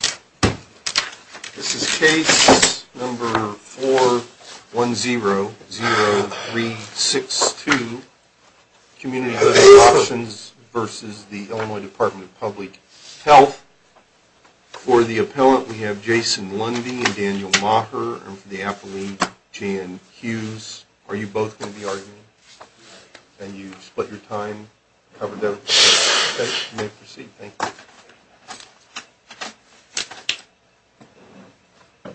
This is case number 410-0362, Community Living Options v. Illinois Department of Public Health. For the appellant, we have Jason Lundy and Daniel Maher. And for the appellee, Jan Hughes. Are you both going to be arguing? And you've split your time, covered everything. Okay, you may proceed. Thank you. Good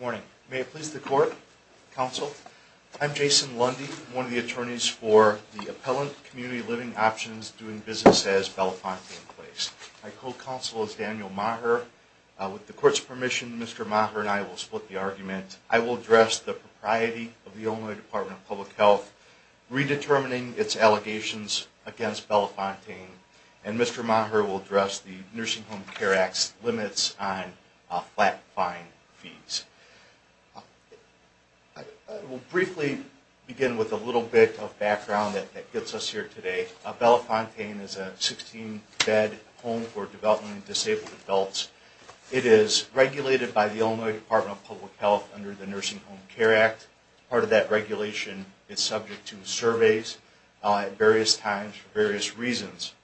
morning. May it please the court, counsel. I'm Jason Lundy, one of the attorneys for the appellant, Community Living Options, doing business as Belafonte in place. My co-counsel is Daniel Maher. With the court's permission, Mr. Maher and I will split the argument. I will address the propriety of the Illinois Department of Public Health, redetermining its allegations against Belafonte, and Mr. Maher will address the Nursing Home Care Act's limits on flat-fine fees. I will briefly begin with a little bit of background that gets us here today. Belafonte is a 16-bed home for developing and disabled adults. It is regulated by the Illinois Department of Public Health under the Nursing Home Care Act. Part of that regulation is subject to surveys at various times for various reasons.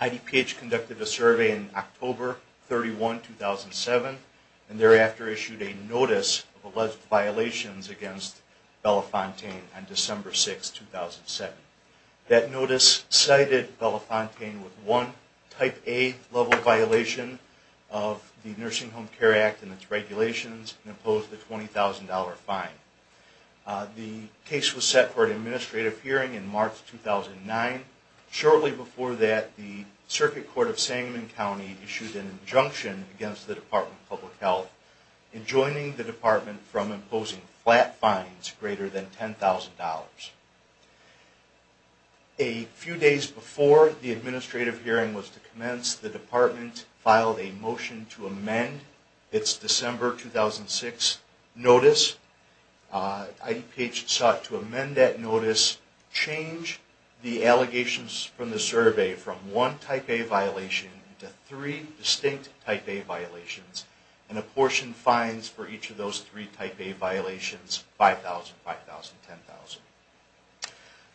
IDPH conducted a survey in October 31, 2007, and thereafter issued a notice of alleged violations against Belafonte on December 6, 2007. That notice cited Belafonte with one Type A-level violation of the Nursing Home Care Act and its regulations and imposed a $20,000 fine. The case was set for an administrative hearing in March 2009. Shortly before that, the Circuit Court of Sangamon County issued an injunction against the Department of Public Health in joining the department from imposing flat fines greater than $10,000. A few days before the administrative hearing was to commence, the department filed a motion to amend its December 2006 notice. IDPH sought to amend that notice, change the allegations from the survey from one Type A violation to three distinct Type A violations, and apportion fines for each of those three Type A violations, $5,000, $5,000, $10,000.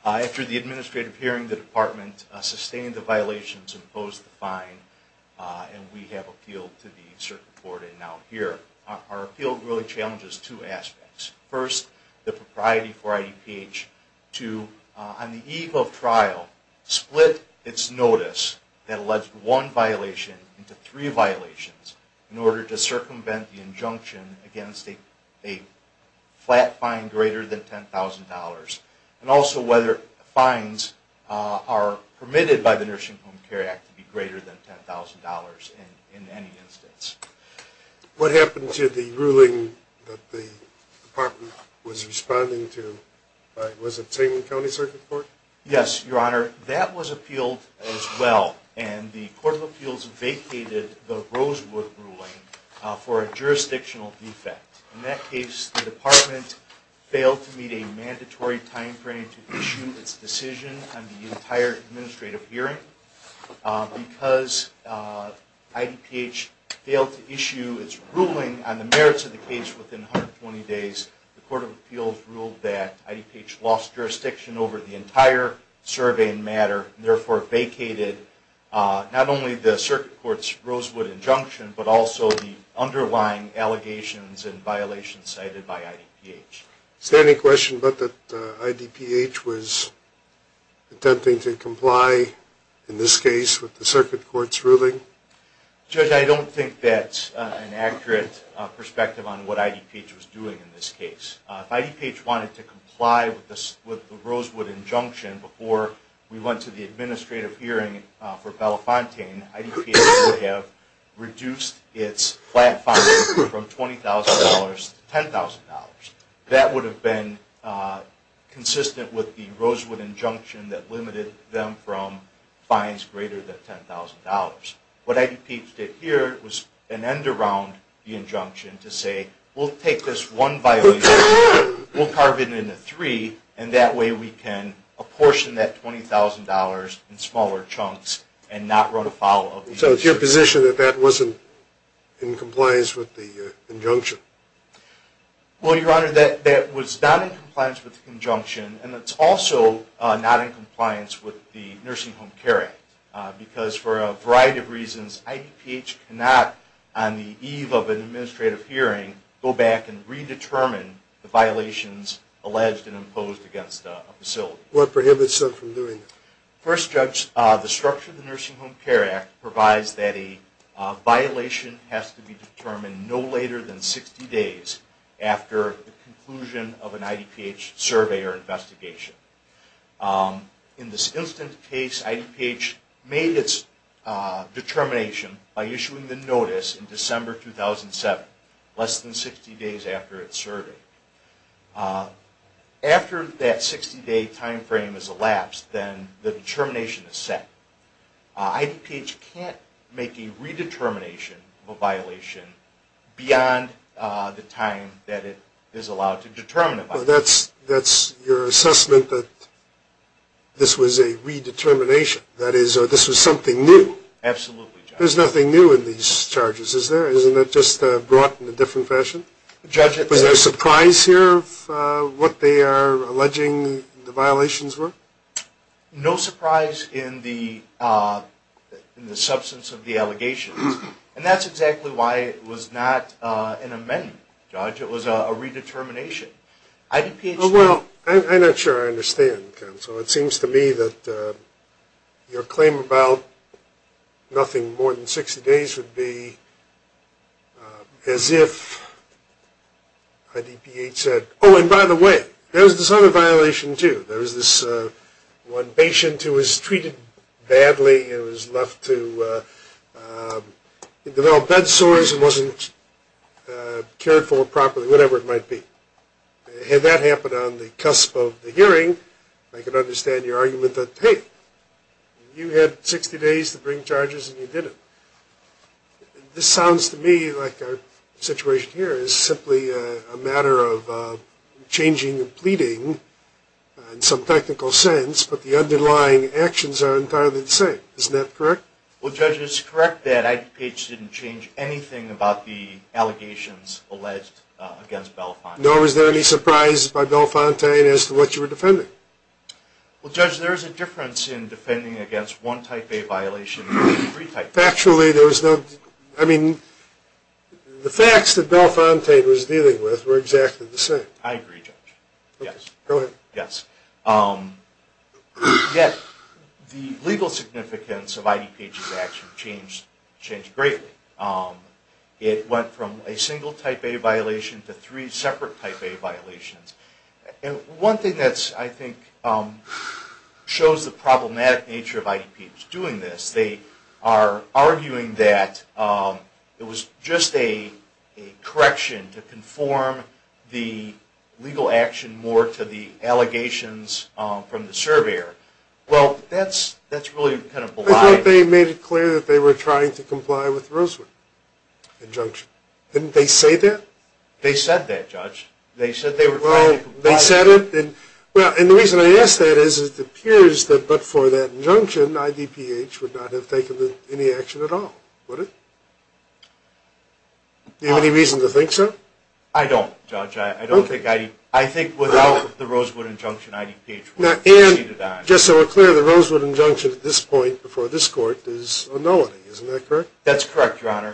After the administrative hearing, the department sustained the violations and imposed the fine, and we have appealed to the Circuit Court and now here. Our appeal really challenges two aspects. First, the propriety for IDPH to, on the eve of trial, split its notice that alleged one violation into three violations in order to circumvent the injunction against a flat fine greater than $10,000, and also whether fines are permitted by the Nursing Home Care Act to be greater than $10,000 in any instance. What happened to the ruling that the department was responding to? Was it Sangamon County Circuit Court? Yes, Your Honor. That was appealed as well, and the Court of Appeals vacated the Rosewood ruling for a jurisdictional defect. In that case, the department failed to meet a mandatory time frame to issue its decision on the entire administrative hearing. Because IDPH failed to issue its ruling on the merits of the case within 120 days, the Court of Appeals ruled that IDPH lost jurisdiction over the entire survey and matter, and therefore vacated not only the Circuit Court's Rosewood injunction, but also the underlying allegations and violations cited by IDPH. Is there any question about that IDPH was attempting to comply, in this case, with the Circuit Court's ruling? Judge, I don't think that's an accurate perspective on what IDPH was doing in this case. If IDPH wanted to comply with the Rosewood injunction before we went to the administrative hearing for Belafontaine, IDPH would have reduced its flat fine from $20,000 to $10,000. That would have been consistent with the Rosewood injunction that limited them from fines greater than $10,000. What IDPH did here was an end around the injunction to say, we'll take this one violation, we'll carve it into three, and that way we can apportion that $20,000 in smaller chunks and not run afoul of the institution. So it's your position that that wasn't in compliance with the injunction? Well, Your Honor, that was not in compliance with the injunction, and it's also not in compliance with the Nursing Home Care Act. Because for a variety of reasons, IDPH cannot, on the eve of an administrative hearing, go back and redetermine the violations alleged and imposed against a facility. What prohibits them from doing that? First, Judge, the structure of the Nursing Home Care Act provides that a violation has to be determined no later than 60 days after the conclusion of an IDPH survey or investigation. In this instance case, IDPH made its determination by issuing the notice in December 2007, less than 60 days after its survey. After that 60-day time frame has elapsed, then the determination is set. IDPH can't make a redetermination of a violation beyond the time that it is allowed to determine a violation. So that's your assessment that this was a redetermination, that this was something new? Absolutely, Judge. There's nothing new in these charges, is there? Isn't it just brought in a different fashion? Was there a surprise here of what they are alleging the violations were? No surprise in the substance of the allegations. And that's exactly why it was not an amendment, Judge. It was a redetermination. Well, I'm not sure I understand, Counsel. It seems to me that your claim about nothing more than 60 days would be as if IDPH said, oh, and by the way, there's this other violation, too. There's this one patient who was treated badly and was left to develop bed sores and wasn't cared for properly, whatever it might be. Had that happened on the cusp of the hearing, I could understand your argument that, hey, you had 60 days to bring charges and you didn't. This sounds to me like our situation here is simply a matter of changing and pleading in some technical sense, but the underlying actions are entirely the same. Isn't that correct? Well, Judge, it's correct that IDPH didn't change anything about the allegations alleged against Belafonte. Nor was there any surprise by Belafonte as to what you were defending? Well, Judge, there is a difference in defending against one type A violation from three type A violations. Factually, there was no... I mean, the facts that Belafonte was dealing with were exactly the same. I agree, Judge. Yes. Go ahead. Yes. Yet, the legal significance of IDPH's action changed greatly. It went from a single type A violation to three separate type A violations. One thing that I think shows the problematic nature of IDPH's doing this, they are arguing that it was just a correction to conform the legal action more to the allegations from the surveyor. Well, that's really kind of... I thought they made it clear that they were trying to comply with Rosewood's injunction. Didn't they say that? They said that, Judge. They said they were trying to comply. Well, they said it. And the reason I ask that is it appears that but for that injunction, IDPH would not have taken any action at all, would it? Do you have any reason to think so? I don't, Judge. I don't think... I think without the Rosewood injunction, IDPH would have proceeded on. And just so we're clear, the Rosewood injunction at this point, before this court, is a nullity. Isn't that correct? That's correct, Your Honor.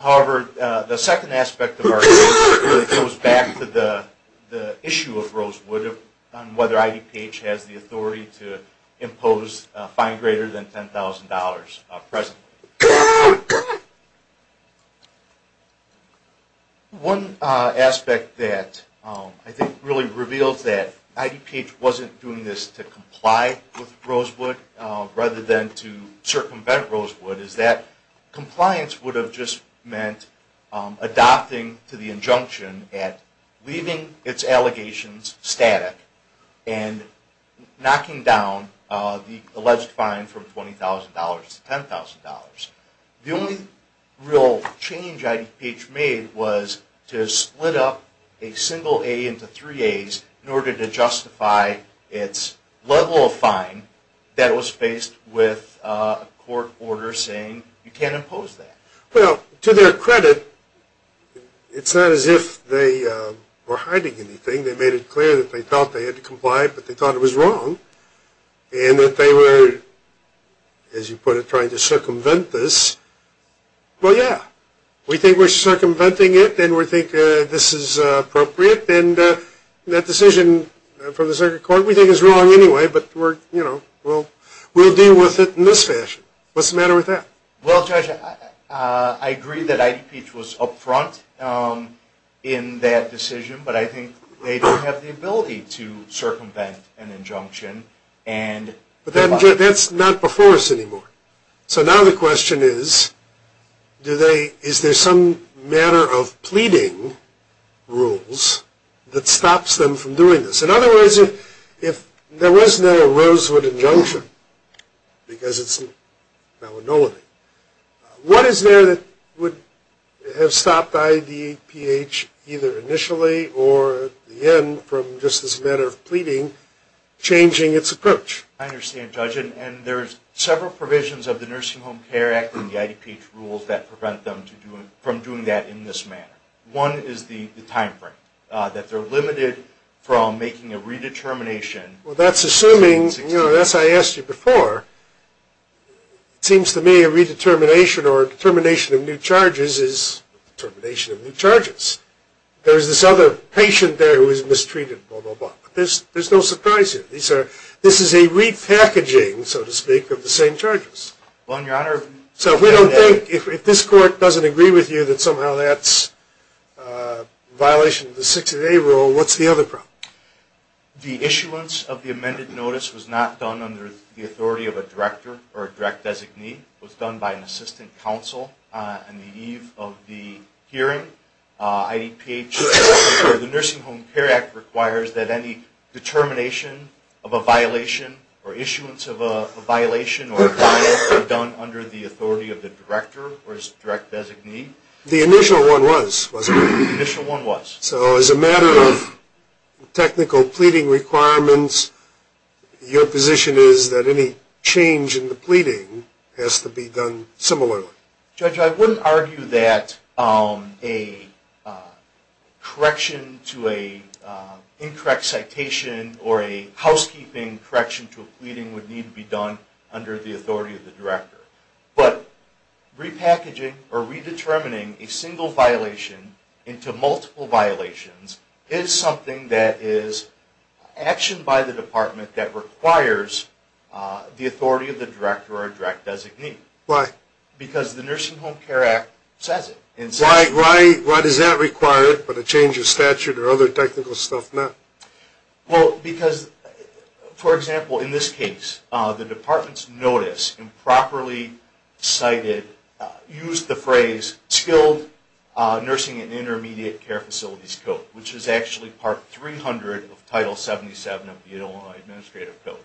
However, the second aspect of our case really goes back to the issue of Rosewood and whether IDPH has the authority to impose a fine greater than $10,000 presently. One aspect that I think really reveals that IDPH wasn't doing this to comply with adopting to the injunction at leaving its allegations static and knocking down the alleged fine from $20,000 to $10,000. The only real change IDPH made was to split up a single A into three As in order to justify its level of fine that was faced with a court order saying, you can't impose that. Well, to their credit, it's not as if they were hiding anything. They made it clear that they thought they had to comply, but they thought it was wrong and that they were, as you put it, trying to circumvent this. Well, yeah, we think we're circumventing it and we think this is appropriate and that decision from the second court we think is wrong anyway, but we'll deal with it in this fashion. What's the matter with that? Well, Judge, I agree that IDPH was up front in that decision, but I think they don't have the ability to circumvent an injunction. But that's not before us anymore. So now the question is, is there some manner of pleading rules that stops them from doing this? In other words, if there was no Rosewood injunction, because it's Malinois, what is there that would have stopped IDPH either initially or at the end from just this matter of pleading changing its approach? I understand, Judge, and there's several provisions of the Nursing Home Care Act and the IDPH rules that prevent them from doing that in this manner. One is the time frame, that they're limited from making a redetermination. Well, that's assuming, you know, as I asked you before, it seems to me a redetermination or a determination of new charges is determination of new charges. There's this other patient there who was mistreated, blah, blah, blah. But there's no surprise here. This is a repackaging, so to speak, of the same charges. Well, Your Honor. So if we don't think, if this court doesn't agree with you that somehow that's a violation of the 60-day rule, what's the other problem? The issuance of the amended notice was not done under the authority of a director or a direct designee. It was done by an assistant counsel on the eve of the hearing. IDPH, or the Nursing Home Care Act, requires that any determination of a violation or issuance of a violation or a violation be done under the authority of the director or his direct designee. The initial one was, wasn't it? The initial one was. So as a matter of technical pleading requirements, your position is that any change in the pleading has to be done similarly. Judge, I wouldn't argue that a correction to an incorrect citation or a housekeeping correction to a pleading would need to be done under the authority of the director. But repackaging or redetermining a single violation into multiple violations is something that is actioned by the department that requires the authority of the director or a direct designee. Why? Because the Nursing Home Care Act says it. Why does that require it, but a change of statute or other technical stuff not? Well, because, for example, in this case, the department's notice improperly cited, used the phrase, Skilled Nursing and Intermediate Care Facilities Code, which is actually Part 300 of Title 77 of the Illinois Administrative Code.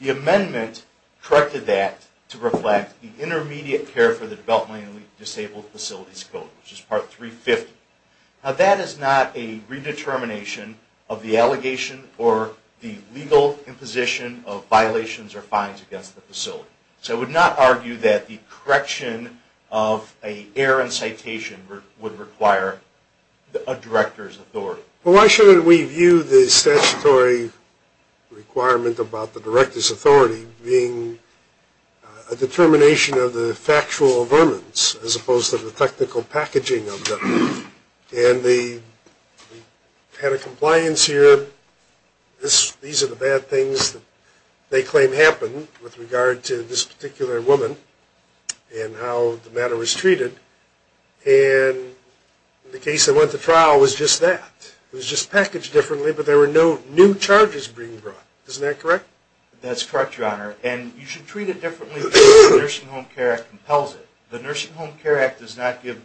The amendment corrected that to reflect the Intermediate Care for the Developmentally Disabled Facilities Code, which is Part 350. Now, that is not a redetermination of the allegation or the legal imposition of violations or fines against the facility. So I would not argue that the correction of an error in citation would require a director's authority. Well, why shouldn't we view the statutory requirement about the director's authority being a determination of the factual vermins as opposed to the technical packaging of them? And the kind of compliance here, these are the bad things that they claim happened with regard to this particular woman and how the matter was treated. And the case that went to trial was just that. It was just packaged differently, but there were no new charges being brought. Isn't that correct? That's correct, Your Honor. And you should treat it differently because the Nursing Home Care Act compels it. The Nursing Home Care Act does not require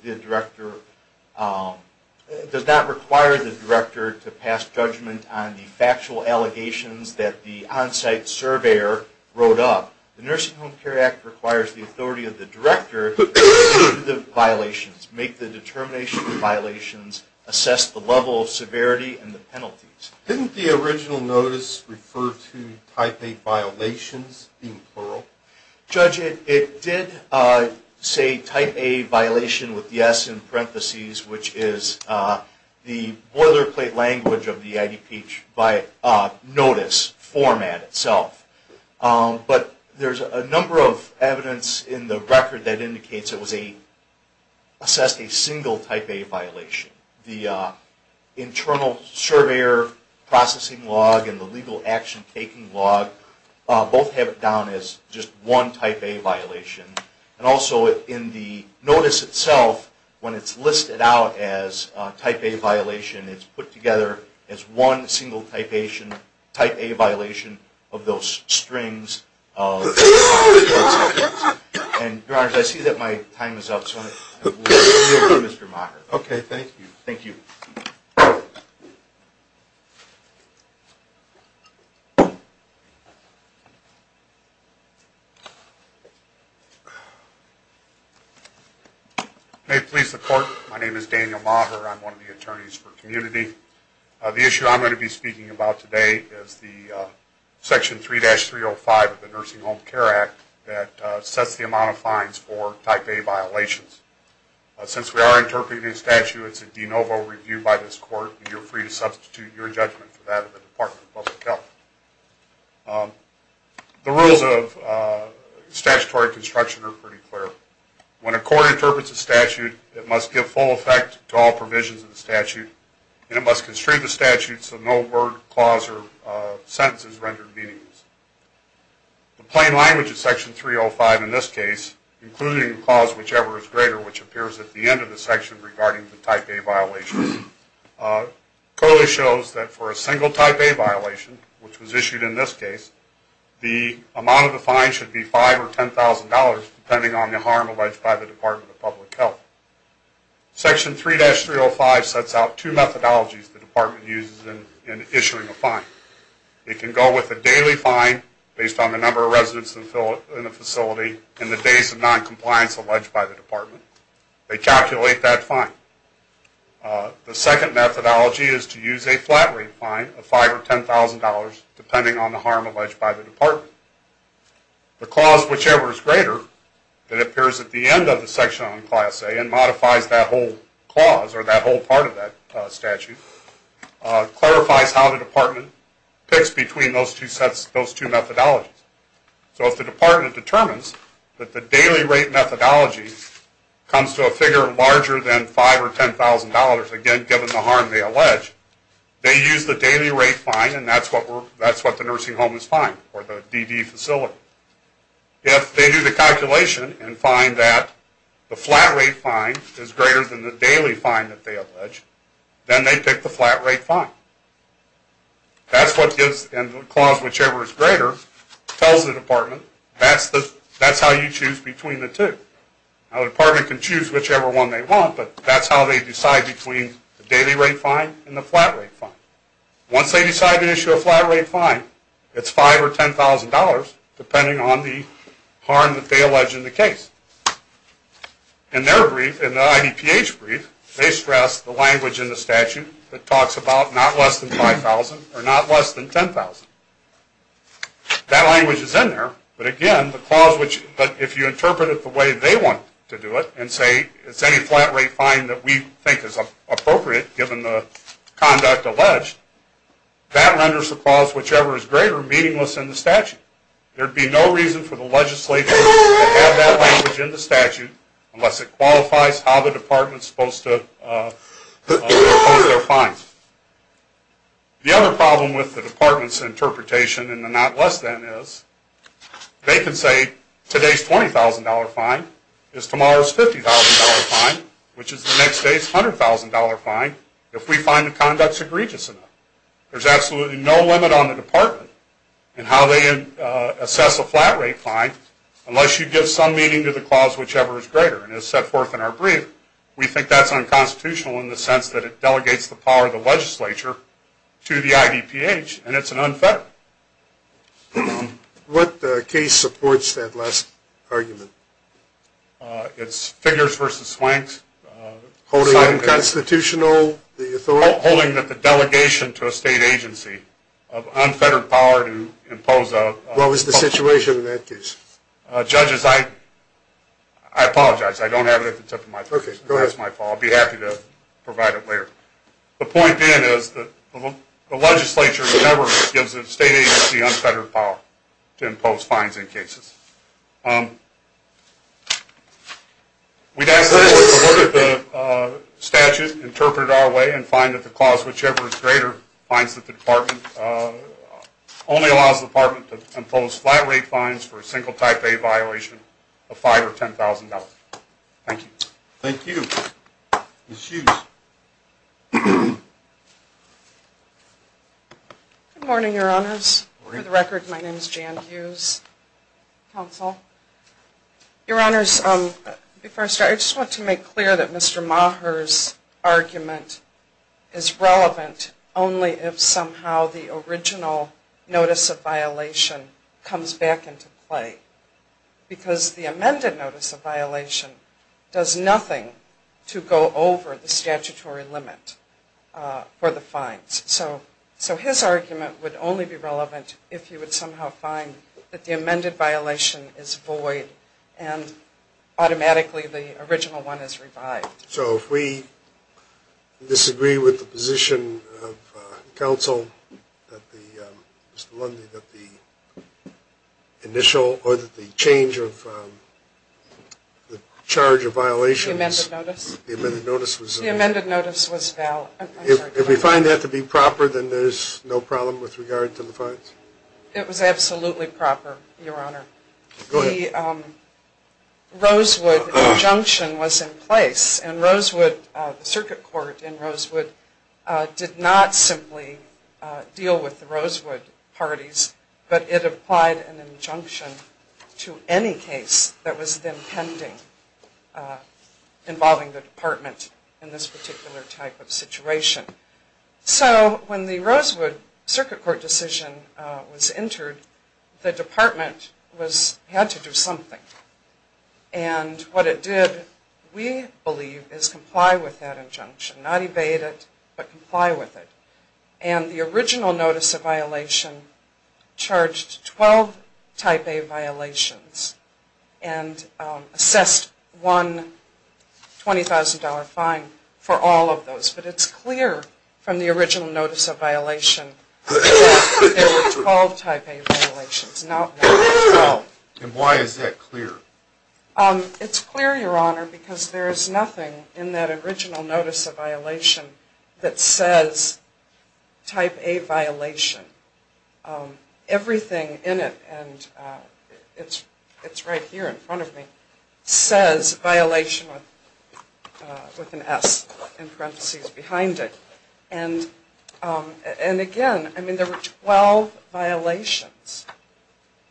the director to pass judgment on the factual allegations that the on-site surveyor wrote up. The Nursing Home Care Act requires the authority of the director to make the violations, make the determination of violations, assess the level of severity and the penalties. Didn't the original notice refer to Type A violations, being plural? Judge, it did say Type A violation with yes in parentheses, which is the boilerplate language of the IDPH notice format itself. But there's a number of evidence in the record that indicates it assessed a single Type A violation. The internal surveyor processing log and the legal action taking log both have it down as just one Type A violation. And also in the notice itself, when it's listed out as Type A violation, it's put together as one single Type A violation of those strings. And, Your Honor, I see that my time is up, so I will yield to Mr. Maher. Okay, thank you. Thank you. May it please the Court, my name is Daniel Maher. I'm one of the attorneys for Community. The issue I'm going to be speaking about today is the Section 3-305 of the Nursing Home Care Act that sets the amount of fines for Type A violations. Since we are interpreting a statute, it's a de novo review by this Court, and you're free to substitute your judgment for that of the Department of Public Health. The rules of statutory construction are pretty clear. When a court interprets a statute, it must give full effect to all provisions of the statute, and it must construe the statute so no word, clause, or sentence is rendered meaningless. The plain language of Section 3-305 in this case, including the clause, whichever is greater, which appears at the end of the section regarding the Type A violation, clearly shows that for a single Type A violation, which was issued in this case, the amount of the fine should be $5,000 or $10,000 depending on the harm alleged by the Department of Public Health. Section 3-305 sets out two methodologies the Department uses in issuing a fine. It can go with a daily fine based on the number of residents in the facility and the days of noncompliance alleged by the Department. They calculate that fine. The second methodology is to use a flat rate fine of $5,000 or $10,000 depending on the harm alleged by the Department. The clause, whichever is greater, that appears at the end of the section on Class A and modifies that whole clause or that whole part of that statute, clarifies how the Department picks between those two methodologies. So if the Department determines that the daily rate methodology comes to a figure larger than $5,000 or $10,000, again given the harm they allege, they use the daily rate fine and that's what the nursing home is fined, or the DD facility. If they do the calculation and find that the flat rate fine is greater than the daily fine that they allege, then they pick the flat rate fine. That's what gives, and the clause, whichever is greater, tells the Department that's how you choose between the two. Now the Department can choose whichever one they want, but that's how they decide between the daily rate fine and the flat rate fine. Once they decide to issue a flat rate fine, it's $5,000 or $10,000 depending on the harm that they allege in the case. In their brief, in the IDPH brief, they stress the language in the statute that talks about not less than $5,000 or not less than $10,000. That language is in there, but again, the clause, if you interpret it the way they want to do it, and say it's any flat rate fine that we think is appropriate given the conduct alleged, that renders the clause, whichever is greater, meaningless in the statute. There would be no reason for the legislature to have that language in the statute unless it qualifies how the Department is supposed to impose their fines. The other problem with the Department's interpretation in the not less than is they can say today's $20,000 fine is tomorrow's $50,000 fine, which is the next day's $100,000 fine, if we find the conduct is egregious enough. There's absolutely no limit on the Department in how they assess a flat rate fine unless you give some meaning to the clause, whichever is greater. And as set forth in our brief, we think that's unconstitutional in the sense that it delegates the power of the legislature to the IDPH, and it's an unfettered. What case supports that last argument? It's Figures v. Swank's. Holding unconstitutional the authority? Holding that the delegation to a state agency of unfettered power to impose a What's the situation in that case? Judges, I apologize. I don't have it at the tip of my tongue. That's my fault. I'd be happy to provide it later. The point being is that the legislature never gives a state agency unfettered power to impose fines in cases. We'd ask the court to look at the statute, interpret it our way, and find that the clause, flat rate fines for a single type A violation of $5,000 or $10,000. Thank you. Thank you. Ms. Hughes. Good morning, Your Honors. Good morning. For the record, my name is Jan Hughes, counsel. Your Honors, before I start, I just want to make clear that Mr. Maher's argument is relevant only if somehow the original notice of violation comes back into play. Because the amended notice of violation does nothing to go over the statutory limit for the fines. So his argument would only be relevant if you would somehow find that the amended violation is void and automatically the original one is revived. So if we disagree with the position of counsel, Mr. Lundy, that the initial or the change of the charge of violations The amended notice? The amended notice was The amended notice was valid. If we find that to be proper, then there's no problem with regard to the fines? It was absolutely proper, Your Honor. Go ahead. The Rosewood injunction was in place. And Rosewood, the circuit court in Rosewood, did not simply deal with the Rosewood parties, but it applied an injunction to any case that was then pending involving the department in this particular type of situation. So when the Rosewood circuit court decision was entered, the department had to do something. And what it did, we believe, is comply with that injunction. Not evade it, but comply with it. And the original notice of violation charged 12 type A violations and assessed one $20,000 fine for all of those. But it's clear from the original notice of violation that there were 12 type A violations, not more than 12. And why is that clear? It's clear, Your Honor, because there is nothing in that original notice of violation that says type A violation. Everything in it, and it's right here in front of me, says violation with an S in parentheses behind it. And again, I mean, there were 12 violations.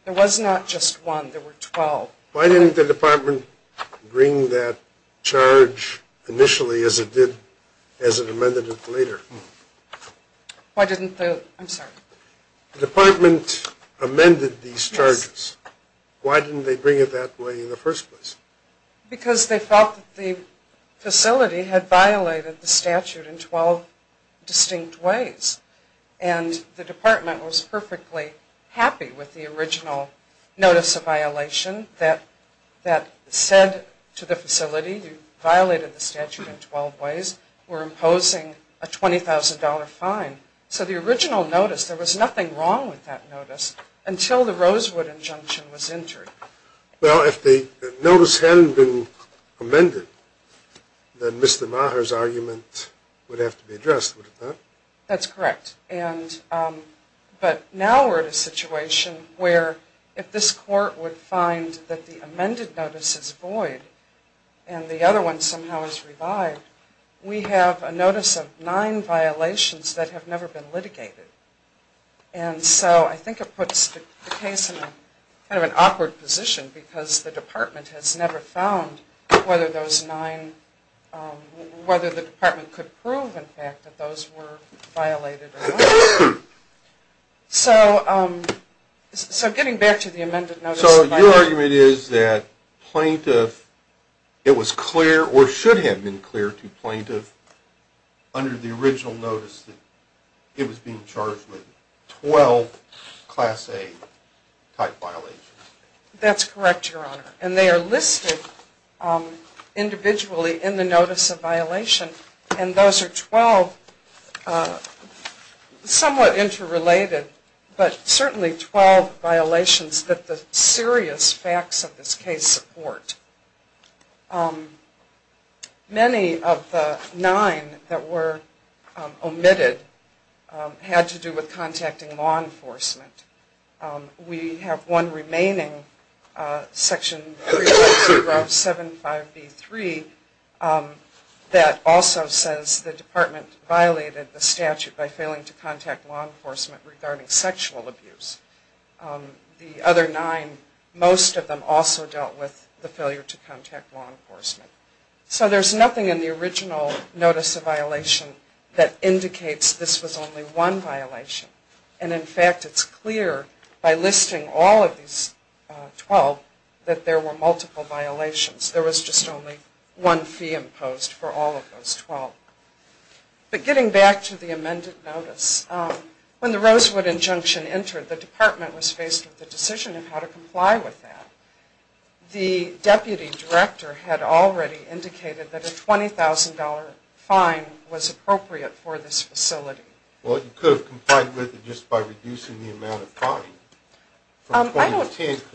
There was not just one. There were 12. Why didn't the department bring that charge initially as it amended it later? I'm sorry. The department amended these charges. Why didn't they bring it that way in the first place? Because they felt that the facility had violated the statute in 12 distinct ways. And the department was perfectly happy with the original notice of violation that said to the facility, you violated the statute in 12 ways. We're imposing a $20,000 fine. So the original notice, there was nothing wrong with that notice until the Rosewood injunction was entered. Well, if the notice hadn't been amended, then Mr. Maher's argument would have to be addressed, would it not? That's correct. But now we're in a situation where if this court would find that the amended notice is void and the other one somehow is revived, we have a notice of nine violations that have never been litigated. And so I think it puts the case in kind of an awkward position, because the department has never found whether the department could prove, in fact, that those were violated or not. So getting back to the amended notice of violation. So your argument is that plaintiff, it was clear or should have been clear to plaintiff under the original notice that it was being charged with 12 Class A type violations. That's correct, Your Honor. And they are listed individually in the notice of violation. And those are 12 somewhat interrelated, but certainly 12 violations that the serious facts of this case support. Many of the nine that were omitted had to do with contacting law enforcement. We have one remaining, Section 352 of 75B3, that also says the department violated the statute by failing to contact law enforcement regarding sexual abuse. The other nine, most of them also dealt with the failure to contact law enforcement. So there's nothing in the original notice of violation that indicates this was only one violation. And, in fact, it's clear by listing all of these 12 that there were multiple violations. There was just only one fee imposed for all of those 12. But getting back to the amended notice, when the Rosewood injunction entered, the department was faced with the decision of how to comply with that. The deputy director had already indicated that a $20,000 fine was appropriate for this facility. Well, you could have complied with it just by reducing the amount of fine from $20,000 to $10,000.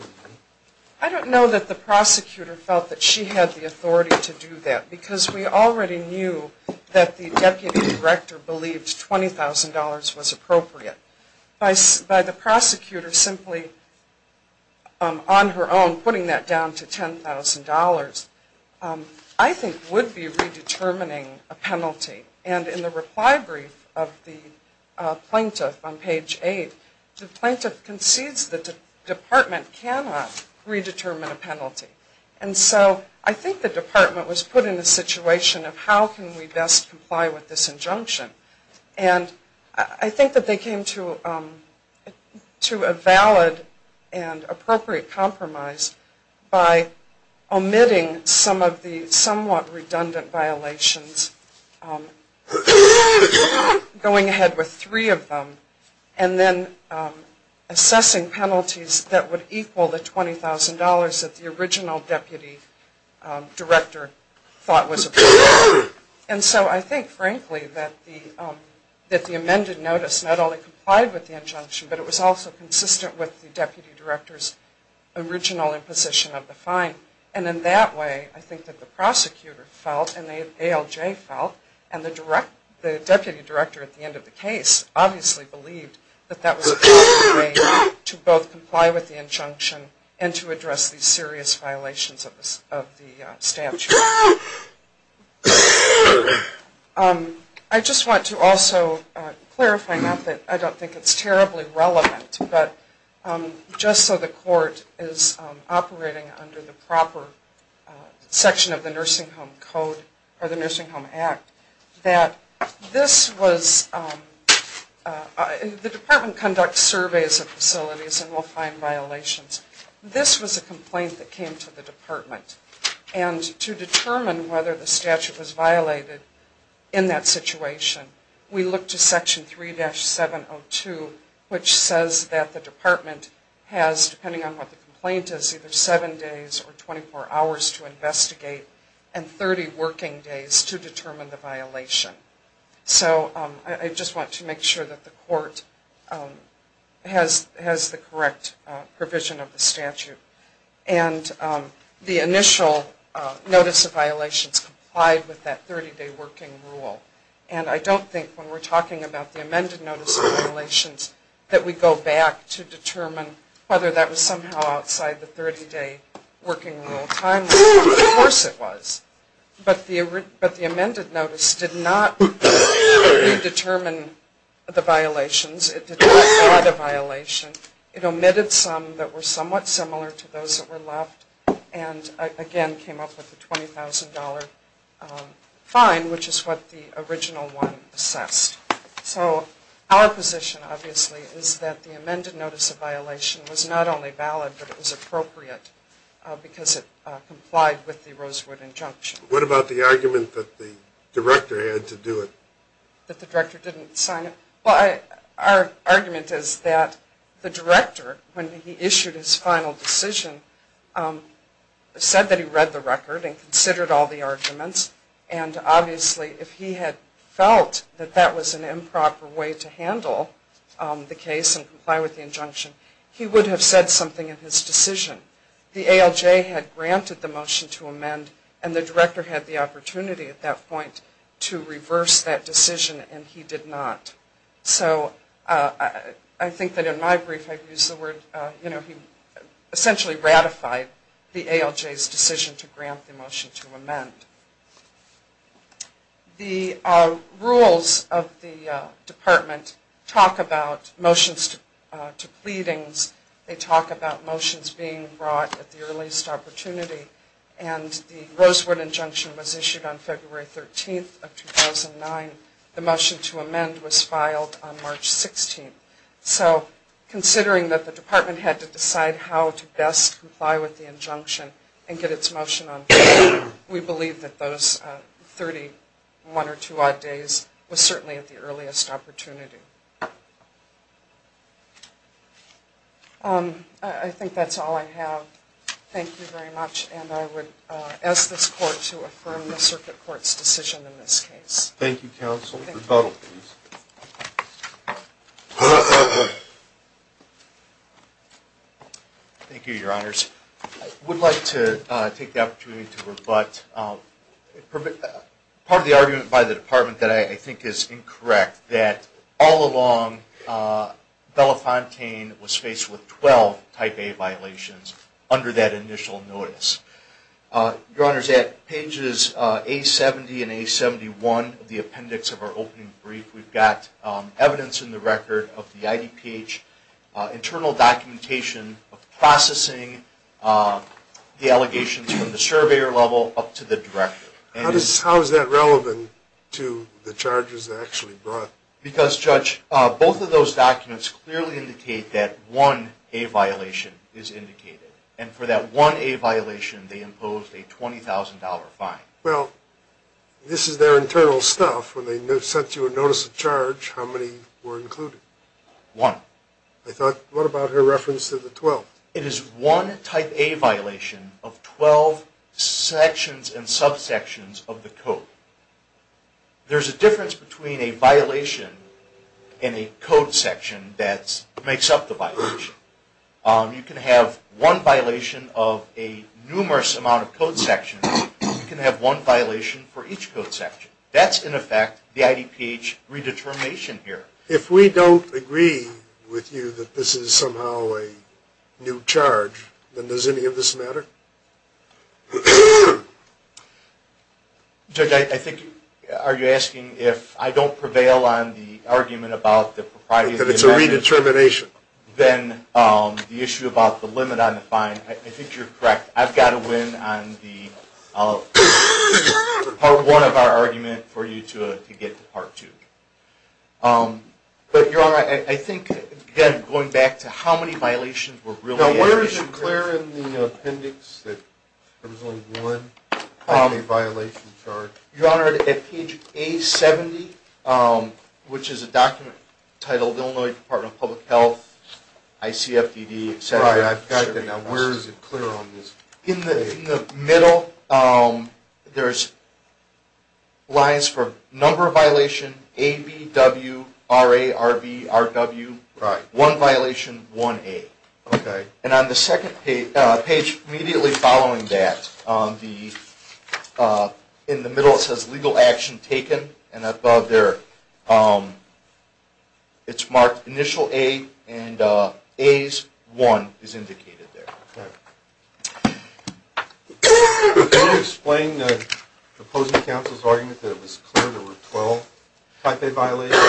I don't know that the prosecutor felt that she had the authority to do that, because we already knew that the deputy director believed $20,000 was appropriate. By the prosecutor simply on her own putting that down to $10,000, I think would be redetermining a penalty. And in the reply brief of the plaintiff on page eight, the plaintiff concedes that the department cannot redetermine a penalty. And so I think the department was put in a situation of how can we best comply with this injunction. And I think that they came to a valid and appropriate compromise by omitting some of the somewhat redundant violations, going ahead with three of them, and then assessing penalties that would equal the $20,000 that the original deputy director thought was appropriate. And so I think, frankly, that the amended notice not only complied with the injunction, but it was also consistent with the deputy director's original imposition of the fine. And in that way, I think that the prosecutor felt, and the ALJ felt, and the deputy director at the end of the case obviously believed that that was a proper way to both comply with the injunction and to address these serious violations of the statute. I just want to also clarify, not that I don't think it's terribly relevant, but just so the court is operating under the proper section of the Nursing Home Code, or the Nursing Home Act, that this was, the department conducts surveys of facilities and will find violations. This was a complaint that came to the department. And to determine whether the statute was violated in that situation, we look to Section 3-702, which says that the department has, depending on what the complaint is, either seven days or 24 hours to investigate and 30 working days to determine the violation. So I just want to make sure that the court has the correct provision of the statute. And the initial notice of violations complied with that 30-day working rule. And I don't think when we're talking about the amended notice of violations, that we go back to determine whether that was somehow outside the 30-day working rule timeline. Of course it was. But the amended notice did not redetermine the violations. It did not add a violation. It omitted some that were somewhat similar to those that were left, and again came up with a $20,000 fine, which is what the original one assessed. So our position, obviously, is that the amended notice of violation was not only valid, but it was appropriate because it complied with the Rosewood injunction. What about the argument that the director had to do it? That the director didn't sign it? Well, our argument is that the director, when he issued his final decision, said that he read the record and considered all the arguments, and obviously if he had felt that that was an improper way to handle the case and comply with the injunction, he would have said something in his decision. And the director had the opportunity at that point to reverse that decision, and he did not. So I think that in my brief I've used the word, you know, he essentially ratified the ALJ's decision to grant the motion to amend. The rules of the department talk about motions to pleadings. They talk about motions being brought at the earliest opportunity. And the Rosewood injunction was issued on February 13th of 2009. The motion to amend was filed on March 16th. So considering that the department had to decide how to best comply with the injunction and get its motion on file, we believe that those 31 or 2 odd days was certainly at the earliest opportunity. I think that's all I have. Thank you very much. And I would ask this court to affirm the circuit court's decision in this case. Thank you, counsel. Rebuttal, please. Thank you, Your Honors. I would like to take the opportunity to rebut part of the argument by the department that I think is incorrect, that all along Belafontaine was faced with 12 type A violations under that initial notice. Your Honors, at pages A70 and A71 of the appendix of our opening brief, we've got evidence in the record of the IDPH internal documentation of processing the allegations from the surveyor level up to the director. How is that relevant to the charges actually brought? Because, Judge, both of those documents clearly indicate that one A violation is indicated. And for that one A violation, they imposed a $20,000 fine. Well, this is their internal stuff. When they sent you a notice of charge, how many were included? One. I thought, what about her reference to the 12th? It is one type A violation of 12 sections and subsections of the code. There's a difference between a violation and a code section that makes up the violation. You can have one violation of a numerous amount of code sections. You can have one violation for each code section. That's, in effect, the IDPH redetermination here. If we don't agree with you that this is somehow a new charge, then does any of this matter? Judge, I think, are you asking if I don't prevail on the argument about the propriety of the amendment? That it's a redetermination. Then the issue about the limit on the fine, I think you're correct. I've got to win on the part one of our argument for you to get to part two. But, Your Honor, I think, again, going back to how many violations were really at issue here. Now, where is it clear in the appendix that there was only one A violation charge? Your Honor, at page A70, which is a document titled Illinois Department of Public Health, ICFDD, etc. Right, I've got that. Now, where is it clear on this? In the middle, there's lines for number of violation, ABWRARBRW, one violation, one A. And on the second page immediately following that, in the middle it says legal action taken. And above there, it's marked initial A and A's one is indicated there. Can you explain the opposing counsel's argument that it was clear there were 12 type A violations?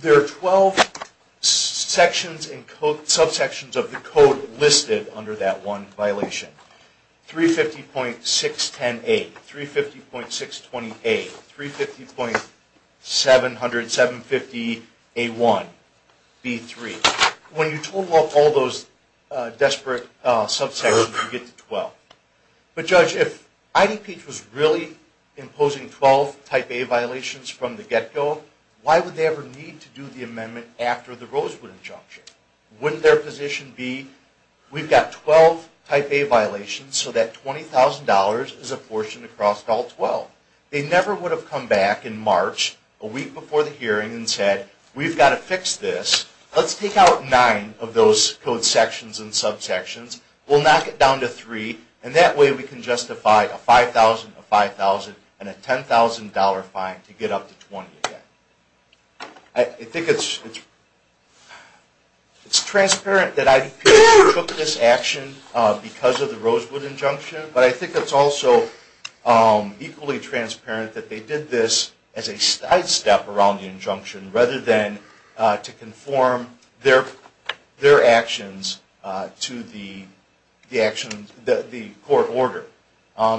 There are 12 sections and subsections of the code listed under that one violation. 350.610A, 350.620A, 350.750A1B3. When you total up all those desperate subsections, you get to 12. But, Judge, if IDPH was really imposing 12 type A violations from the get-go, why would they ever need to do the amendment after the Rosewood injunction? Wouldn't their position be, we've got 12 type A violations, so that $20,000 is apportioned across all 12. They never would have come back in March, a week before the hearing, and said, we've got to fix this, let's take out 9 of those code sections and subsections, we'll knock it down to 3, and that way we can justify a $5,000, a $5,000, and a $10,000 fine to get up to 20 again. I think it's transparent that IDPH took this action because of the Rosewood injunction, but I think it's also equally transparent that they did this as a sidestep around the injunction, rather than to conform their actions to the court order.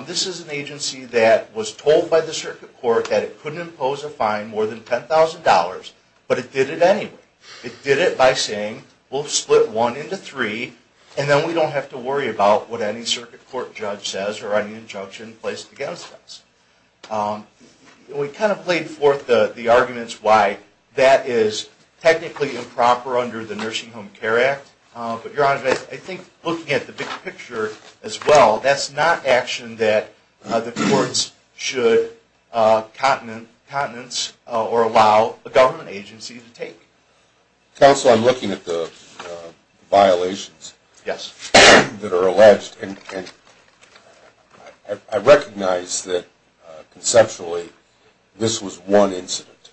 This is an agency that was told by the circuit court that it couldn't impose a fine more than $10,000, but it did it anyway. It did it by saying, we'll split 1 into 3, and then we don't have to worry about what any circuit court judge says or any injunction placed against us. We kind of played forth the arguments why that is technically improper under the Nursing Home Care Act, but Your Honor, I think looking at the big picture as well, that's not action that the courts should countenance or allow a government agency to take. Counsel, I'm looking at the violations that are alleged, and I recognize that conceptually this was one incident,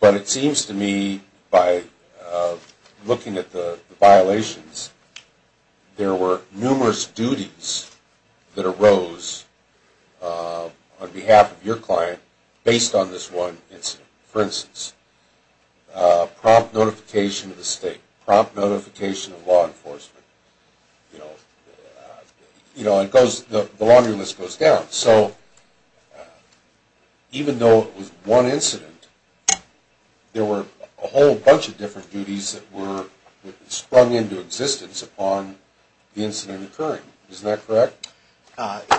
but it seems to me by looking at the violations, there were numerous duties that arose on behalf of your client based on this one incident. For instance, prompt notification of the state, prompt notification of law enforcement. The laundry list goes down. So even though it was one incident, there were a whole bunch of different duties that were sprung into existence upon the incident occurring. Isn't that correct?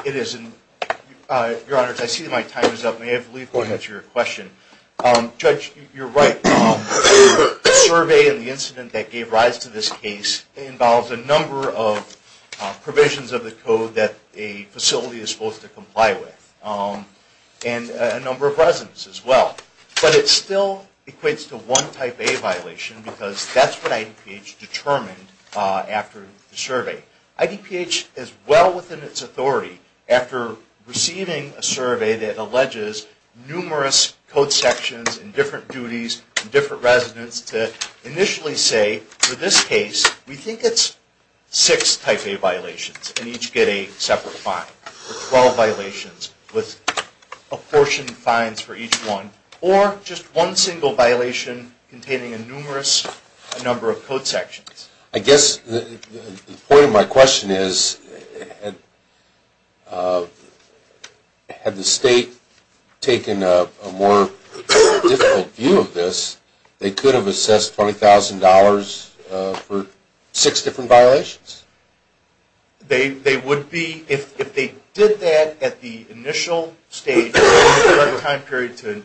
It is. Your Honor, I see my time is up. May I please go ahead to your question? Judge, you're right. The survey and the incident that gave rise to this case involves a number of provisions of the code that a facility is supposed to comply with and a number of residents as well. But it still equates to one type A violation because that's what IDPH determined after the survey. IDPH is well within its authority after receiving a survey that alleges numerous code sections and different duties and different residents to initially say, for this case we think it's six type A violations and each get a separate fine, or 12 violations with apportioned fines for each one, or just one single violation containing a numerous number of code sections. I guess the point of my question is, had the state taken a more difficult view of this, they could have assessed $20,000 for six different violations? They would be. If they did that at the initial stage, the time period to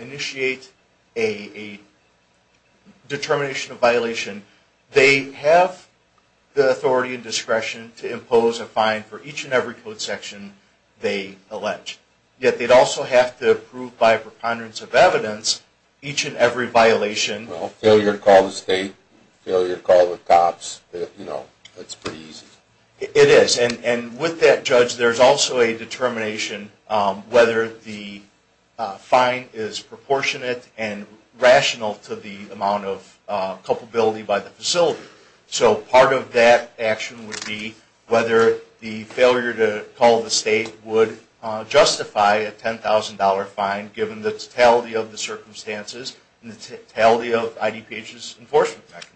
initiate a determination of violation, they have the authority and discretion to impose a fine for each and every code section they allege. Yet they'd also have to prove by a preponderance of evidence each and every violation. Well, failure to call the state, failure to call the cops, you know, it's pretty easy. It is. And with that, Judge, there's also a determination whether the fine is proportionate and rational to the amount of culpability by the facility. So part of that action would be whether the failure to call the state would justify a $10,000 fine, given the totality of the circumstances and the totality of IDPH's enforcement mechanism.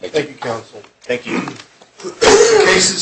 Thank you, Counsel. Thank you. Cases.